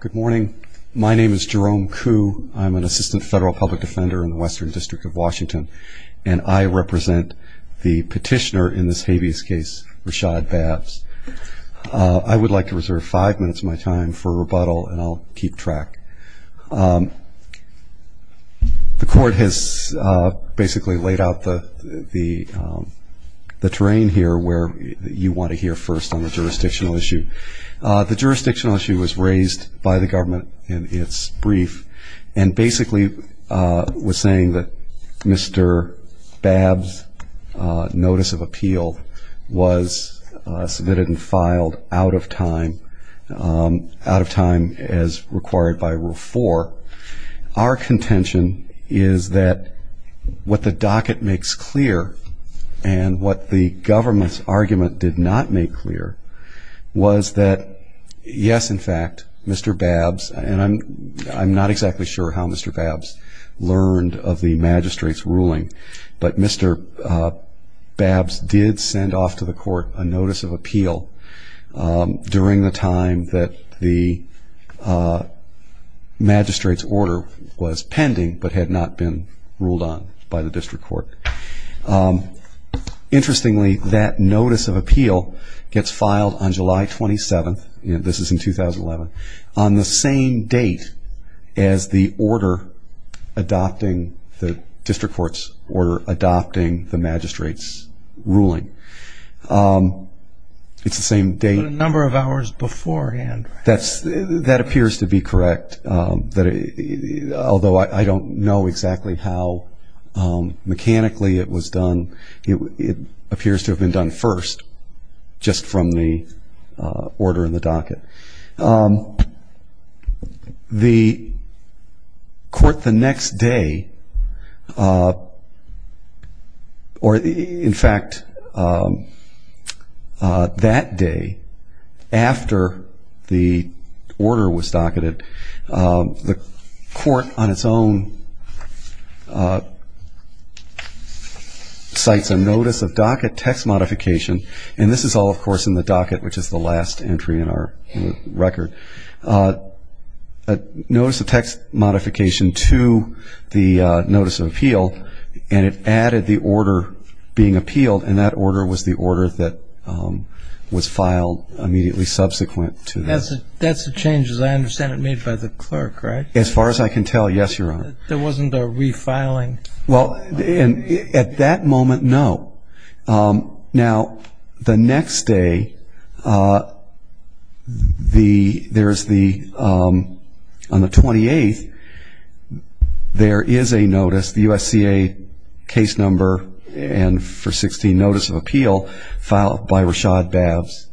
Good morning. My name is Jerome Kuh. I'm an Assistant Federal Public Defender in the Western District of Washington, and I represent the petitioner in this habeas case, Rashad Babbs. I would like to reserve five minutes of my time for rebuttal, and I'll keep track. The Court has basically laid out the terrain here where you want to hear first on the jurisdictional issue. The jurisdictional issue was raised by the government in its brief, and basically was saying that Mr. Babbs' notice of appeal was submitted and filed out of time, as required by Rule 4. Our contention is that what the docket makes clear, and what the government's argument did not make clear, was that, yes, in fact, Mr. Babbs, and I'm not exactly sure how Mr. Babbs learned of the magistrate's ruling, but Mr. Babbs did send off to the Court a notice of appeal during the time that the magistrate's order was pending, but had not been ruled on by the District Court. Interestingly, that notice of appeal gets filed on July 27th, this is in 2011, on the same date as the order adopting, the District Court's order adopting the magistrate's ruling. It's the same date. A number of hours beforehand. That appears to be correct, although I don't know exactly how mechanically it was done. It appears to have been done first, just from the order in the docket. The Court the next day, or in fact, that day, after the order was docketed, the Court on its own cites a notice of docket text modification, and this is all, of course, in the docket, which is the last entry in our record. A notice of text modification to the notice of appeal, and it added the order being appealed, and that order was the order that was filed immediately subsequent to this. That's a change, as I understand it, made by the clerk, right? As far as I can tell, yes, Your Honor. There wasn't a refiling? Well, at that moment, no. Now, the next day, there's the, on the 28th, there is a notice, the U.S.C.A. case number, and for 16 notice of appeal, filed by Rashad Bavs.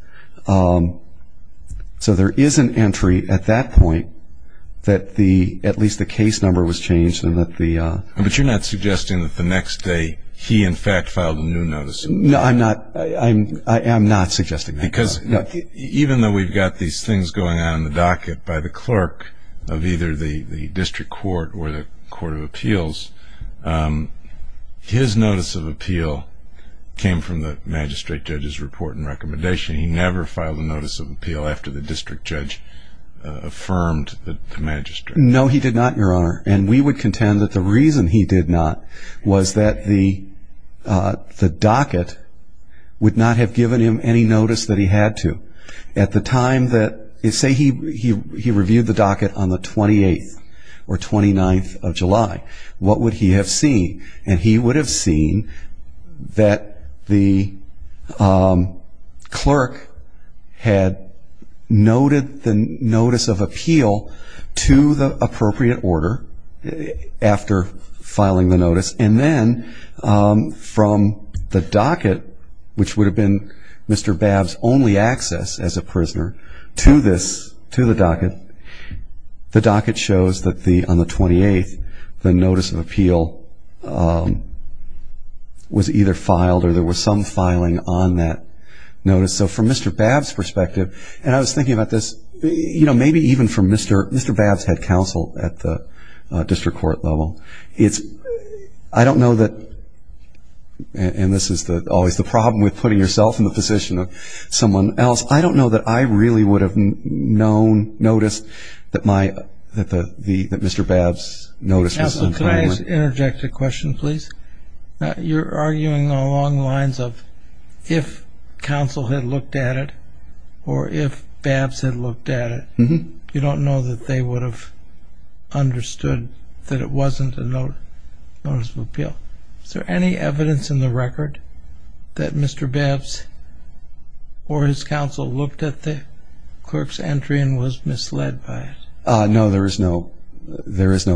So there is an entry at that point that at least the case number was changed. But you're not suggesting that the next day, he in fact filed a new notice of appeal? No, I'm not. I am not suggesting that. Because even though we've got these things going on in the docket by the clerk of either the District Court or the Court of Appeals, his notice of appeal came from the magistrate judge's report and recommendation. He never filed a notice of appeal after the district judge affirmed the magistrate. No, he did not, Your Honor. And we would contend that the reason he did not was that the docket would not have given him any notice that he had to. At the time that, say he reviewed the docket on the 28th or 29th of July, what would he have seen? And he would have seen that the clerk had noted the notice of appeal to the U.S.C.A. in some appropriate order after filing the notice. And then from the docket, which would have been Mr. Bavs' only access as a prisoner to the docket, the docket shows that on the 28th the notice of appeal was either filed or there was some filing on that notice. So from Mr. Bavs' perspective, and I was thinking about this, you know, maybe even from Mr. Bavs' head counsel at the district court level, I don't know that, and this is always the problem with putting yourself in the position of someone else, I don't know that I really would have known, noticed that Mr. Bavs' notice was on time. Counsel, could I interject a question, please? If Mr. Bavs had looked at it, or if Bavs had looked at it, you don't know that they would have understood that it wasn't a notice of appeal. Is there any evidence in the record that Mr. Bavs or his counsel looked at the clerk's entry and was misled by it? No, there is no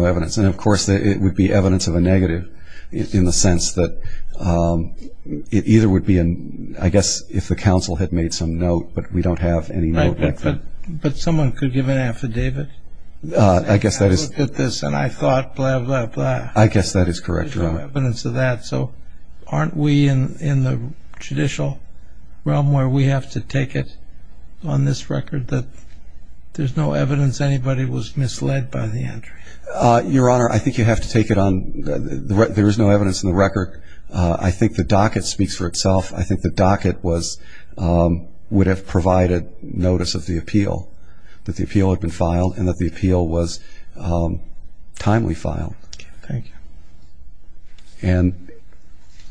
evidence. And, of course, it would be evidence of a negative in the sense that it either would be, I guess, if the counsel had made some note, but we don't have any note like that. But someone could give an affidavit. I guess that is correct, Your Honor. There's no evidence of that. So aren't we in the judicial realm where we have to take it on this record that there's no evidence anybody was misled by the entry? Your Honor, I think you have to take it on, there is no evidence in the record. I think the docket speaks for itself. I think the docket would have provided notice of the appeal, that the appeal had been filed and that the appeal was timely filed.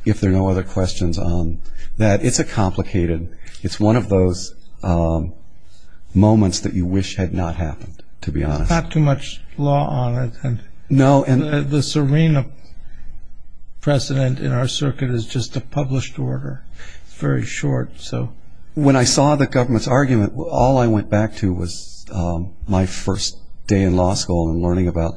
If there are no other questions on that, it's a complicated, it's one of those moments that you wish had not happened, to be honest. Not too much law on it. No. The Serena precedent in our circuit is just a published order, very short. When I saw the government's argument, all I went back to was my first day in law school and learning about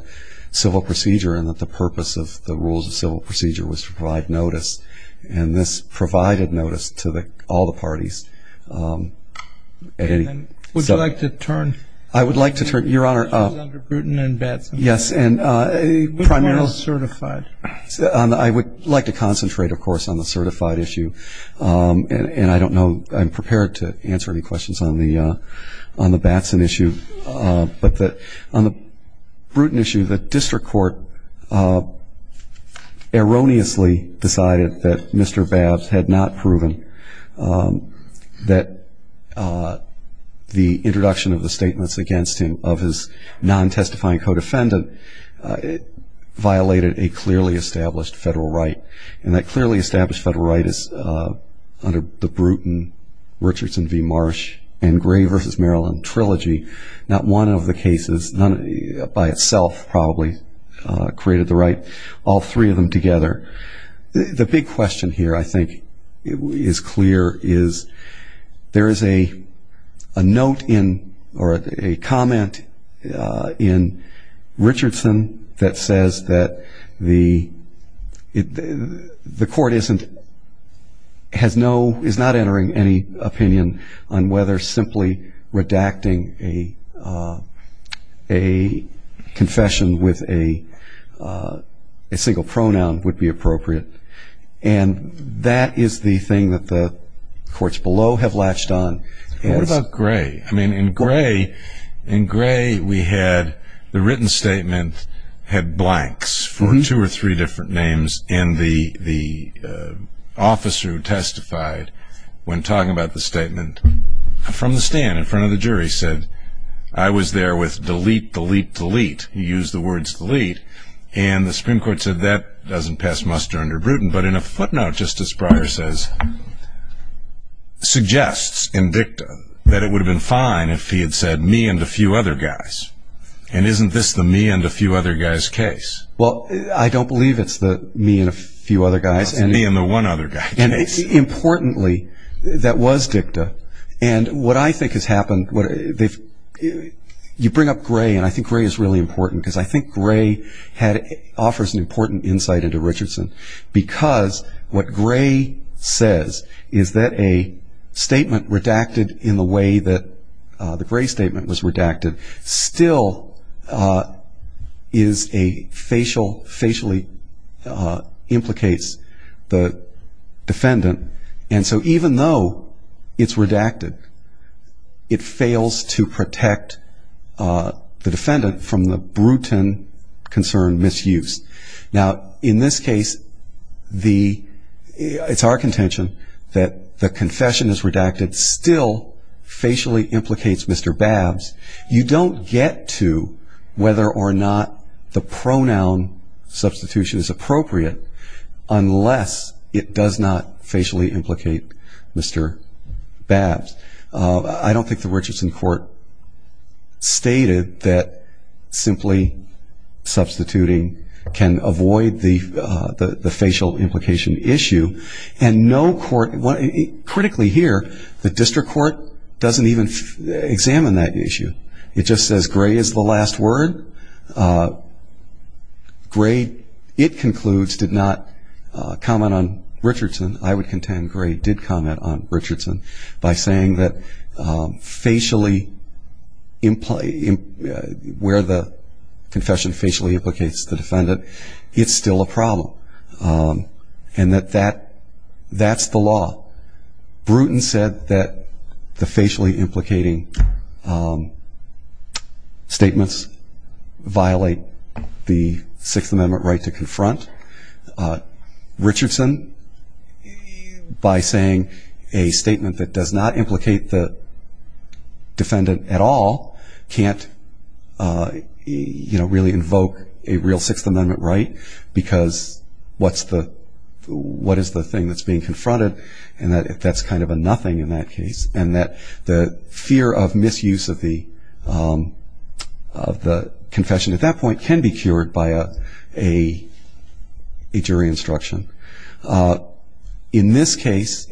civil procedure and that the purpose of the rules of civil procedure was to provide notice. And this provided notice to all the parties. Would you like to turn? I would like to turn. Your Honor. Under Bruton and Batson. Yes. And primarily certified. I would like to concentrate, of course, on the certified issue. And I don't know, I'm prepared to answer any questions on the Batson issue. But on the Bruton issue, the district court erroneously decided that Mr. Babs had not proven that the introduction of the statements against him of his non-testifying co-defendant violated a clearly established federal right. And that clearly established federal right is under the Bruton, Richardson v. Marsh, and Gray v. Maryland trilogy. Not one of the cases, by itself probably, created the right. All three of them together. The big question here, I think, is clear. Is there is a note in or a comment in Richardson that says that the court isn't, has no, and that is the thing that the courts below have latched on. What about Gray? I mean, in Gray we had the written statement had blanks for two or three different names. And the officer who testified when talking about the statement from the stand in front of the jury said, I was there with delete, delete, delete. He used the words delete. And the Supreme Court said that doesn't pass muster under Bruton. But in a footnote, Justice Breyer says, suggests in dicta that it would have been fine if he had said me and a few other guys. And isn't this the me and a few other guys case? Well, I don't believe it's the me and a few other guys. It's the me and the one other guy case. Importantly, that was dicta. And what I think has happened, you bring up Gray, and I think Gray is really important, because I think Gray offers an important insight into Richardson, because what Gray says is that a statement redacted in the way that the Gray statement was redacted still is a facial, facially implicates the defendant. And so even though it's redacted, it fails to protect the defendant from the Bruton concern misuse. Now, in this case, it's our contention that the confession is redacted still facially implicates Mr. Babbs. You don't get to whether or not the pronoun substitution is appropriate unless it does not facially implicate Mr. Babbs. I don't think the Richardson court stated that simply substituting can avoid the facial implication issue. And critically here, the district court doesn't even examine that issue. It just says Gray is the last word. Gray, it concludes, did not comment on Richardson. I would contend Gray did comment on Richardson by saying that where the confession facially implicates the defendant, it's still a problem and that that's the law. Bruton said that the facially implicating statements violate the Sixth Amendment right to confront. Richardson, by saying a statement that does not implicate the defendant at all, can't really invoke a real Sixth Amendment right because what is the thing that's being confronted? And that's kind of a nothing in that case. And that the fear of misuse of the confession at that point can be cured by a jury instruction. In this case,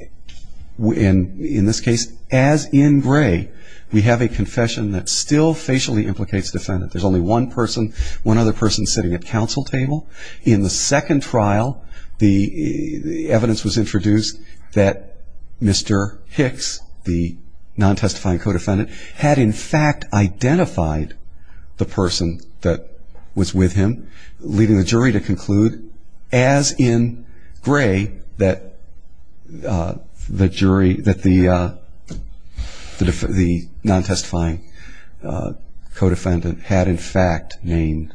as in Gray, we have a confession that still facially implicates the defendant. There's only one person, one other person sitting at counsel table. In the second trial, the evidence was introduced that Mr. Hicks, the non-testifying co-defendant, had in fact identified the person that was with him, to conclude, as in Gray, that the non-testifying co-defendant had in fact named.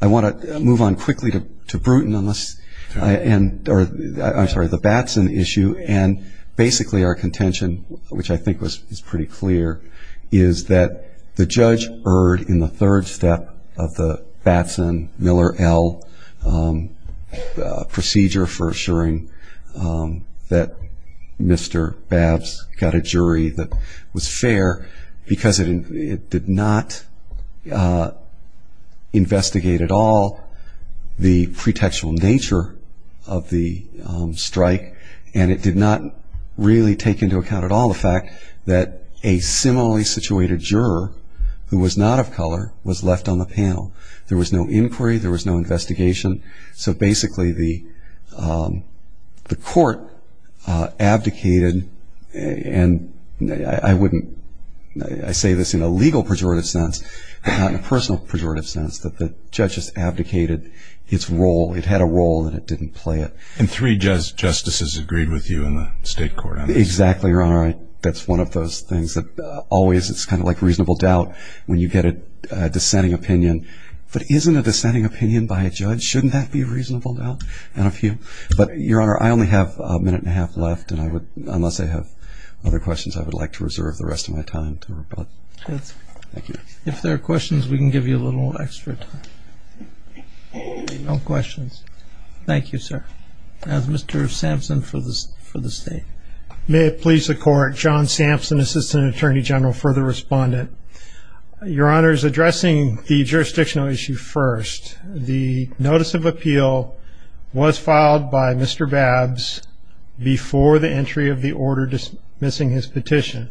I want to move on quickly to Bruton on this. I'm sorry, the Batson issue. And basically our contention, which I think is pretty clear, is that the judge erred in the third step of the Batson-Miller-El procedure for assuring that Mr. Babs got a jury that was fair because it did not investigate at all the pretextual nature of the strike and it did not really take into account at all the fact that a similarly situated juror, who was not of color, was left on the panel. There was no inquiry. There was no investigation. So basically the court abdicated, and I say this in a legal pejorative sense, but not in a personal pejorative sense, that the judge has abdicated its role. It had a role and it didn't play it. And three justices agreed with you in the state court on this? Exactly, Your Honor. That's one of those things that always it's kind of like reasonable doubt when you get a dissenting opinion. But isn't a dissenting opinion by a judge, shouldn't that be a reasonable doubt? And a few. But, Your Honor, I only have a minute and a half left, and unless I have other questions I would like to reserve the rest of my time to rebut. Good. Thank you. If there are questions, we can give you a little extra time. No questions. Thank you, sir. Mr. Sampson for the state. May it please the Court, John Sampson, Assistant Attorney General, Further Respondent. Your Honor, addressing the jurisdictional issue first, the notice of appeal was filed by Mr. Babbs before the entry of the order dismissing his petition.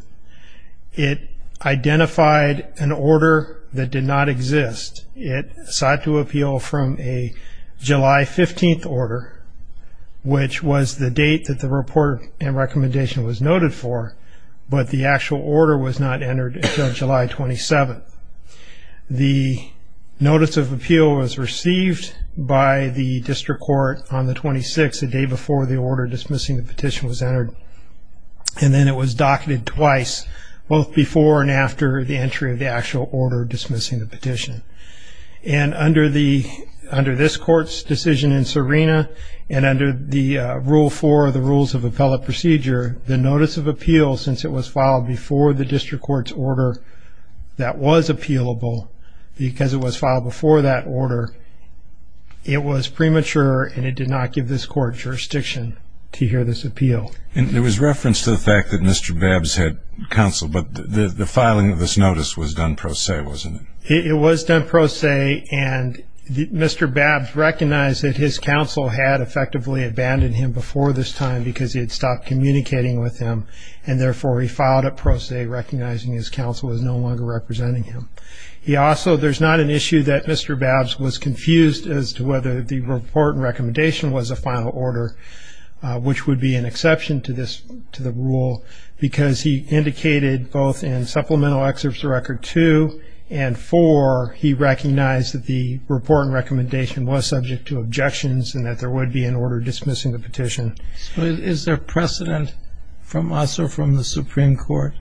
It identified an order that did not exist. It sought to appeal from a July 15th order, which was the date that the report and recommendation was noted for, but the actual order was not entered until July 27th. The notice of appeal was received by the district court on the 26th, the day before the order dismissing the petition was entered, and then it was docketed twice, both before and after the entry of the actual order dismissing the petition. And under this Court's decision in Serena, and under the Rule 4 of the Rules of Appellate Procedure, the notice of appeal, since it was filed before the district court's order that was appealable, because it was filed before that order, it was premature and it did not give this Court jurisdiction to hear this appeal. And there was reference to the fact that Mr. Babbs had counsel, but the filing of this notice was done pro se, wasn't it? It was done pro se, and Mr. Babbs recognized that his counsel had effectively abandoned him before this time because he had stopped communicating with him, and therefore he filed it pro se, recognizing his counsel was no longer representing him. He also, there's not an issue that Mr. Babbs was confused as to whether the report and recommendation was a final order, which would be an exception to this, to the rule, because he indicated both in Supplemental Excerpts of Record 2 and 4, he recognized that the report and recommendation was subject to objections and that there would be an order dismissing the petition. But is there precedent from us or from the Supreme Court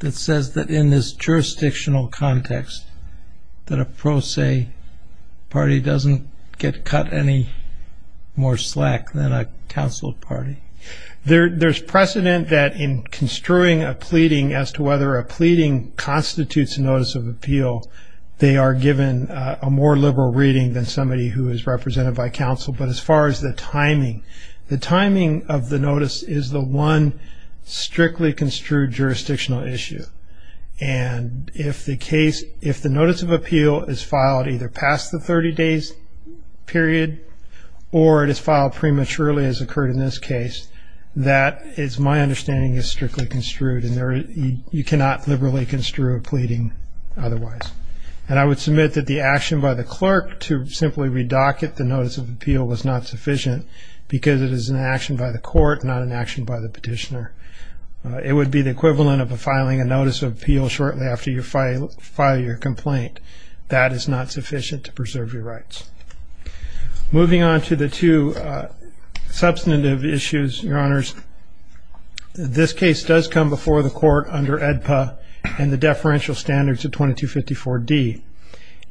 that says that in this jurisdictional context that a pro se party doesn't get cut any more slack than a counsel party? There's precedent that in construing a pleading as to whether a pleading constitutes a notice of appeal, they are given a more liberal reading than somebody who is represented by counsel, but as far as the timing, the timing of the notice is the one strictly construed jurisdictional issue, and if the notice of appeal is filed either past the 30 days period or it is filed prematurely as occurred in this case, that is my understanding is strictly construed, and you cannot liberally construe a pleading otherwise. And I would submit that the action by the clerk to simply redocket the notice of appeal was not sufficient because it is an action by the court, not an action by the petitioner. It would be the equivalent of filing a notice of appeal shortly after you file your complaint. That is not sufficient to preserve your rights. Moving on to the two substantive issues, Your Honors, this case does come before the court under AEDPA and the deferential standards of 2254D,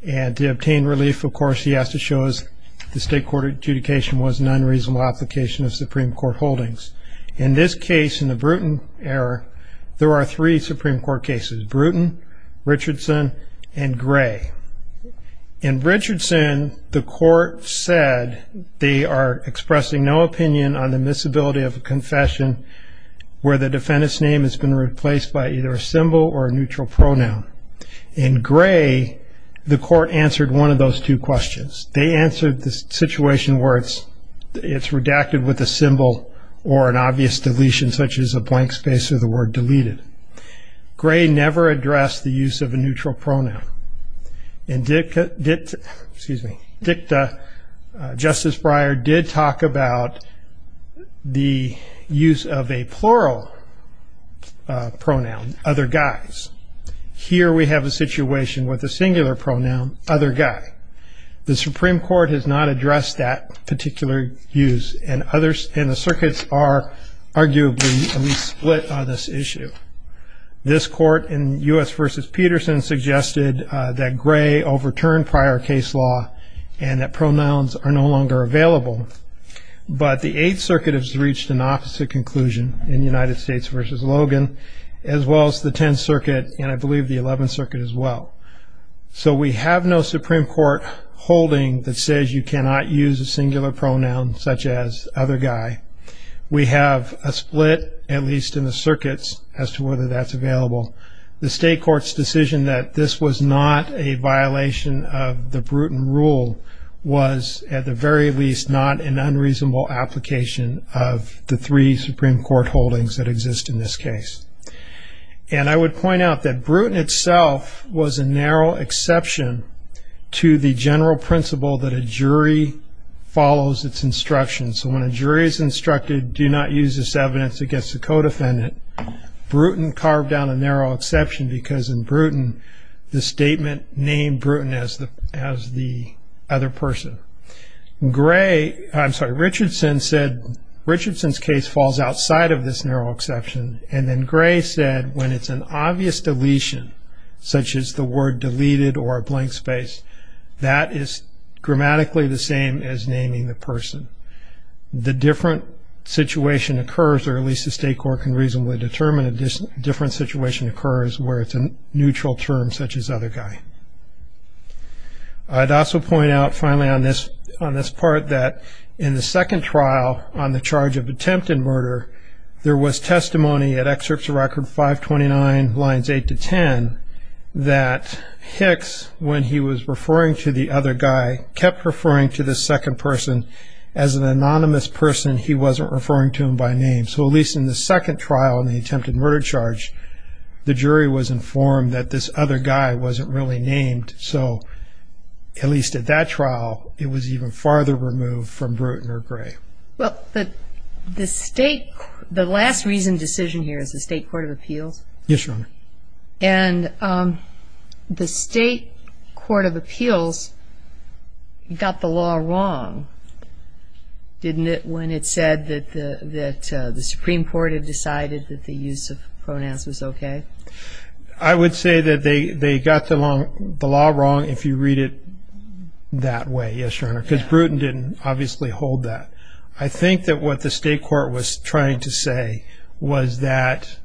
and to obtain relief, of course, he has to show that the state court adjudication was an unreasonable application of Supreme Court holdings. In this case, in the Bruton error, there are three Supreme Court cases, Bruton, Richardson, and Gray. In Richardson, the court said they are expressing no opinion on the miscibility of a confession where the defendant's name has been replaced by either a symbol or a neutral pronoun. In Gray, the court answered one of those two questions. They answered the situation where it's redacted with a symbol or an obvious deletion, such as a blank space or the word deleted. Gray never addressed the use of a neutral pronoun. In Dicta, Justice Breyer did talk about the use of a plural pronoun, other guys. Here we have a situation with a singular pronoun, other guy. The Supreme Court has not addressed that particular use, and the circuits are arguably at least split on this issue. This court in U.S. v. Peterson suggested that Gray overturned prior case law and that pronouns are no longer available, but the Eighth Circuit has reached an opposite conclusion in United States v. Logan, as well as the Tenth Circuit, and I believe the Eleventh Circuit as well. So we have no Supreme Court holding that says you cannot use a singular pronoun such as other guy. We have a split, at least in the circuits, as to whether that's available. The state court's decision that this was not a violation of the Bruton rule was at the very least not an unreasonable application of the three Supreme Court holdings that exist in this case. And I would point out that Bruton itself was a narrow exception to the general principle that a jury follows its instructions. So when a jury is instructed, do not use this evidence against a co-defendant, Bruton carved down a narrow exception because in Bruton, the statement named Bruton as the other person. Richardson's case falls outside of this narrow exception, and then Gray said when it's an obvious deletion, such as the word deleted or a blank space, that is grammatically the same as naming the person. The different situation occurs, or at least the state court can reasonably determine, a different situation occurs where it's a neutral term such as other guy. I'd also point out, finally, on this part, that in the second trial on the charge of attempted murder, there was testimony at Excerpts of Record 529, lines 8 to 10, that Hicks, when he was referring to the other guy, kept referring to this second person. As an anonymous person, he wasn't referring to him by name. So at least in the second trial in the attempted murder charge, the jury was informed that this other guy wasn't really named. So at least at that trial, it was even farther removed from Bruton or Gray. Well, the last reasoned decision here is the state court of appeals. Yes, Your Honor. And the state court of appeals got the law wrong, didn't it, when it said that the Supreme Court had decided that the use of pronouns was okay? I would say that they got the law wrong, if you read it that way, yes, Your Honor, because Bruton didn't obviously hold that. I think that what the state court was trying to say was that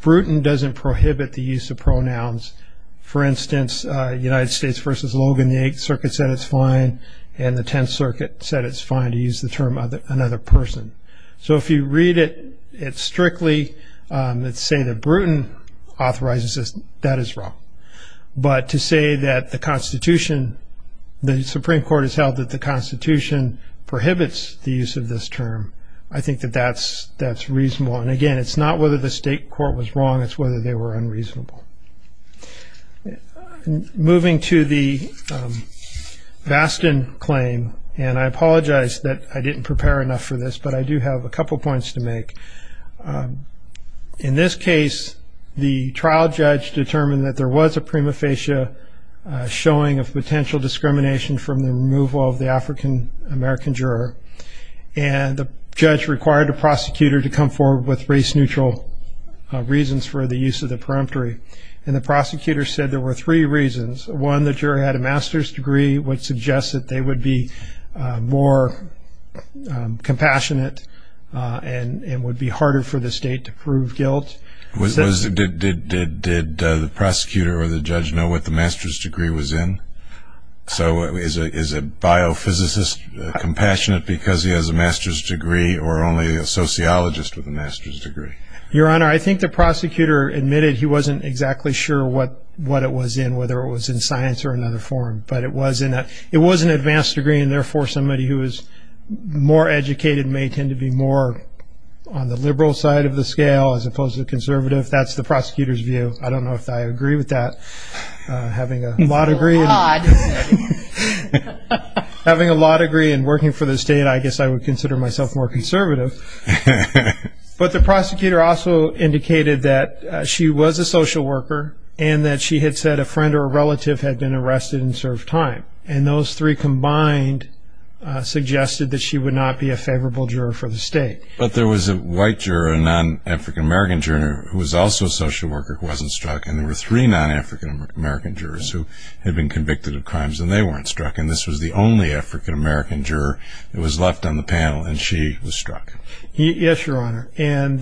Bruton doesn't prohibit the use of pronouns. For instance, United States v. Logan, the Eighth Circuit said it's fine, and the Tenth Circuit said it's fine to use the term another person. So if you read it strictly and say that Bruton authorizes this, that is wrong. But to say that the Constitution, the Supreme Court has held that the Constitution prohibits the use of this term, I think that that's reasonable. And, again, it's not whether the state court was wrong, it's whether they were unreasonable. Moving to the Bastin claim, and I apologize that I didn't prepare enough for this, but I do have a couple points to make. In this case, the trial judge determined that there was a prima facie showing of potential discrimination from the removal of the African-American juror, and the judge required the prosecutor to come forward with race-neutral reasons for the use of the peremptory. And the prosecutor said there were three reasons. One, the juror had a master's degree, which suggests that they would be more compassionate and would be harder for the state to prove guilt. Did the prosecutor or the judge know what the master's degree was in? So is a biophysicist compassionate because he has a master's degree or only a sociologist with a master's degree? Your Honor, I think the prosecutor admitted he wasn't exactly sure what it was in, whether it was in science or another form. But it was an advanced degree, and, therefore, somebody who is more educated may tend to be more on the liberal side of the scale as opposed to conservative. That's the prosecutor's view. I don't know if I agree with that. Having a law degree and working for the state, I guess I would consider myself more conservative. But the prosecutor also indicated that she was a social worker and that she had said a friend or a relative had been arrested and served time. And those three combined suggested that she would not be a favorable juror for the state. But there was a white juror, a non-African-American juror, who was also a social worker who wasn't struck. And there were three non-African-American jurors who had been convicted of crimes, and they weren't struck. And this was the only African-American juror that was left on the panel, and she was struck. Yes, Your Honor. And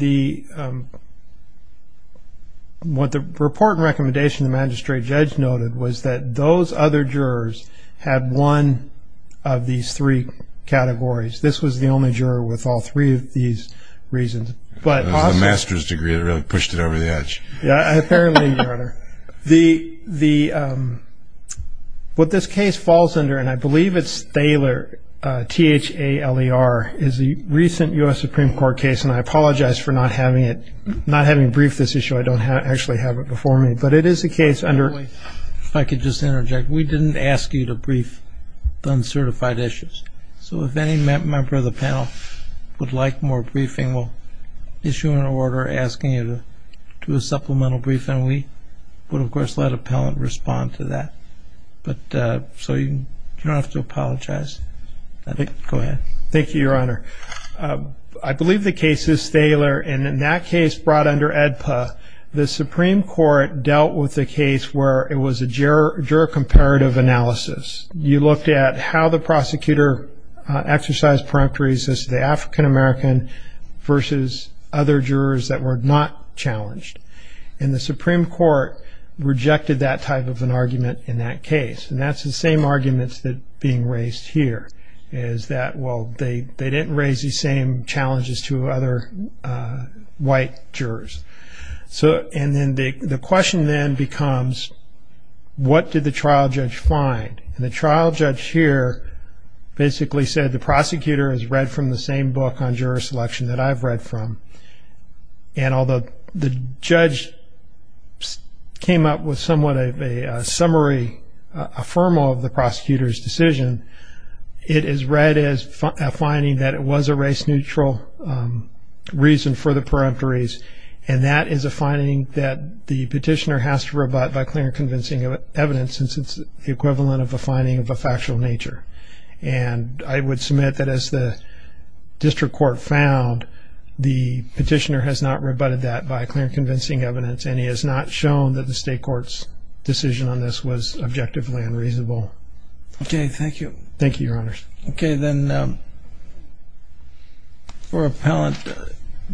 what the report and recommendation of the magistrate judge noted was that those other jurors had one of these three categories. This was the only juror with all three of these reasons. It was the master's degree that really pushed it over the edge. Yes, apparently, Your Honor. What this case falls under, and I believe it's Thaler, T-H-A-L-E-R, is the recent U.S. Supreme Court case, and I apologize for not having it, not having briefed this issue. I don't actually have it before me. But it is a case under... If I could just interject. We didn't ask you to brief the uncertified issues. So if any member of the panel would like more briefing, we'll issue an order asking you to do a supplemental briefing, and we would, of course, let appellant respond to that. So you don't have to apologize. Go ahead. Thank you, Your Honor. I believe the case is Thaler, and in that case brought under AEDPA, the Supreme Court dealt with a case where it was a juror comparative analysis. You looked at how the prosecutor exercised peripheries as the African American versus other jurors that were not challenged. And the Supreme Court rejected that type of an argument in that case. And that's the same arguments that are being raised here, is that, well, they didn't raise the same challenges to other white jurors. And then the question then becomes, what did the trial judge find? And the trial judge here basically said the prosecutor has read from the same book on juror selection that I've read from. And although the judge came up with somewhat of a summary, a formal of the prosecutor's decision, it is read as a finding that it was a race-neutral reason for the peripheries, and that is a finding that the petitioner has to rebut by clear and convincing evidence since it's the equivalent of a finding of a factual nature. And I would submit that as the district court found, the petitioner has not rebutted that by clear and convincing evidence, and he has not shown that the state court's decision on this was objectively unreasonable. Okay, thank you. Thank you, Your Honors. Okay, then for appellant,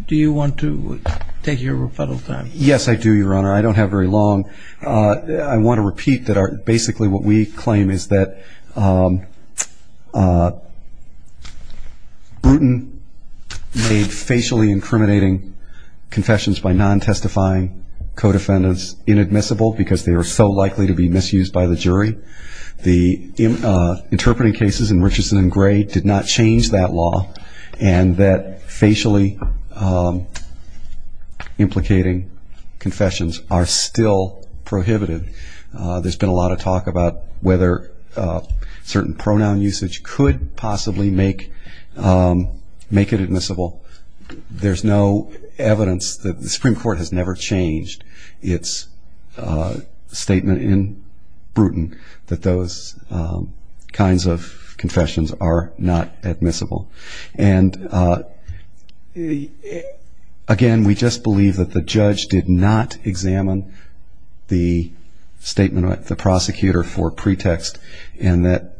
do you want to take your rebuttal time? Yes, I do, Your Honor. I don't have very long. I want to repeat that basically what we claim is that Bruton made facially incriminating confessions by non-testifying co-defendants inadmissible because they were so likely to be misused by the jury. The interpreting cases in Richardson and Gray did not change that law, and that facially implicating confessions are still prohibited. There's been a lot of talk about whether certain pronoun usage could possibly make it admissible. There's no evidence that the Supreme Court has never changed its statement in Bruton that those kinds of confessions are not admissible. And, again, we just believe that the judge did not examine the statement of the prosecutor for pretext and that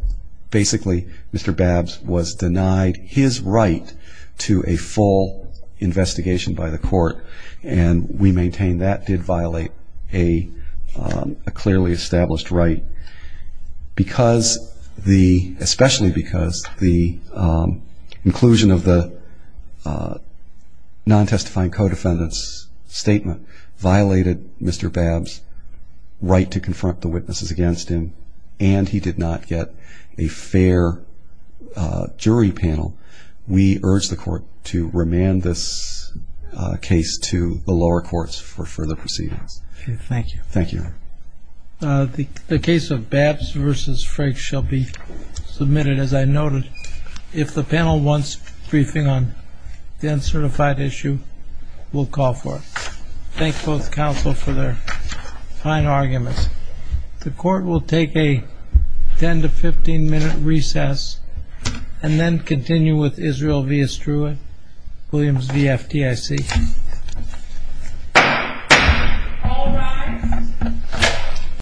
basically Mr. Babbs was denied his right to a full investigation by the court, and we maintain that did violate a clearly established right, especially because the inclusion of the non-testifying co-defendants' statement violated Mr. Babbs' right to confront the witnesses against him, and he did not get a fair jury panel, we urge the court to remand this case to the lower courts for further proceedings. Thank you. Thank you, Your Honor. The case of Babbs v. Frank shall be submitted, as I noted. If the panel wants briefing on the uncertified issue, we'll call for it. Thank both counsel for their kind arguments. The court will take a 10 to 15 minute recess and then continue with Israel v. Estrua, Williams v. FDIC. All rise.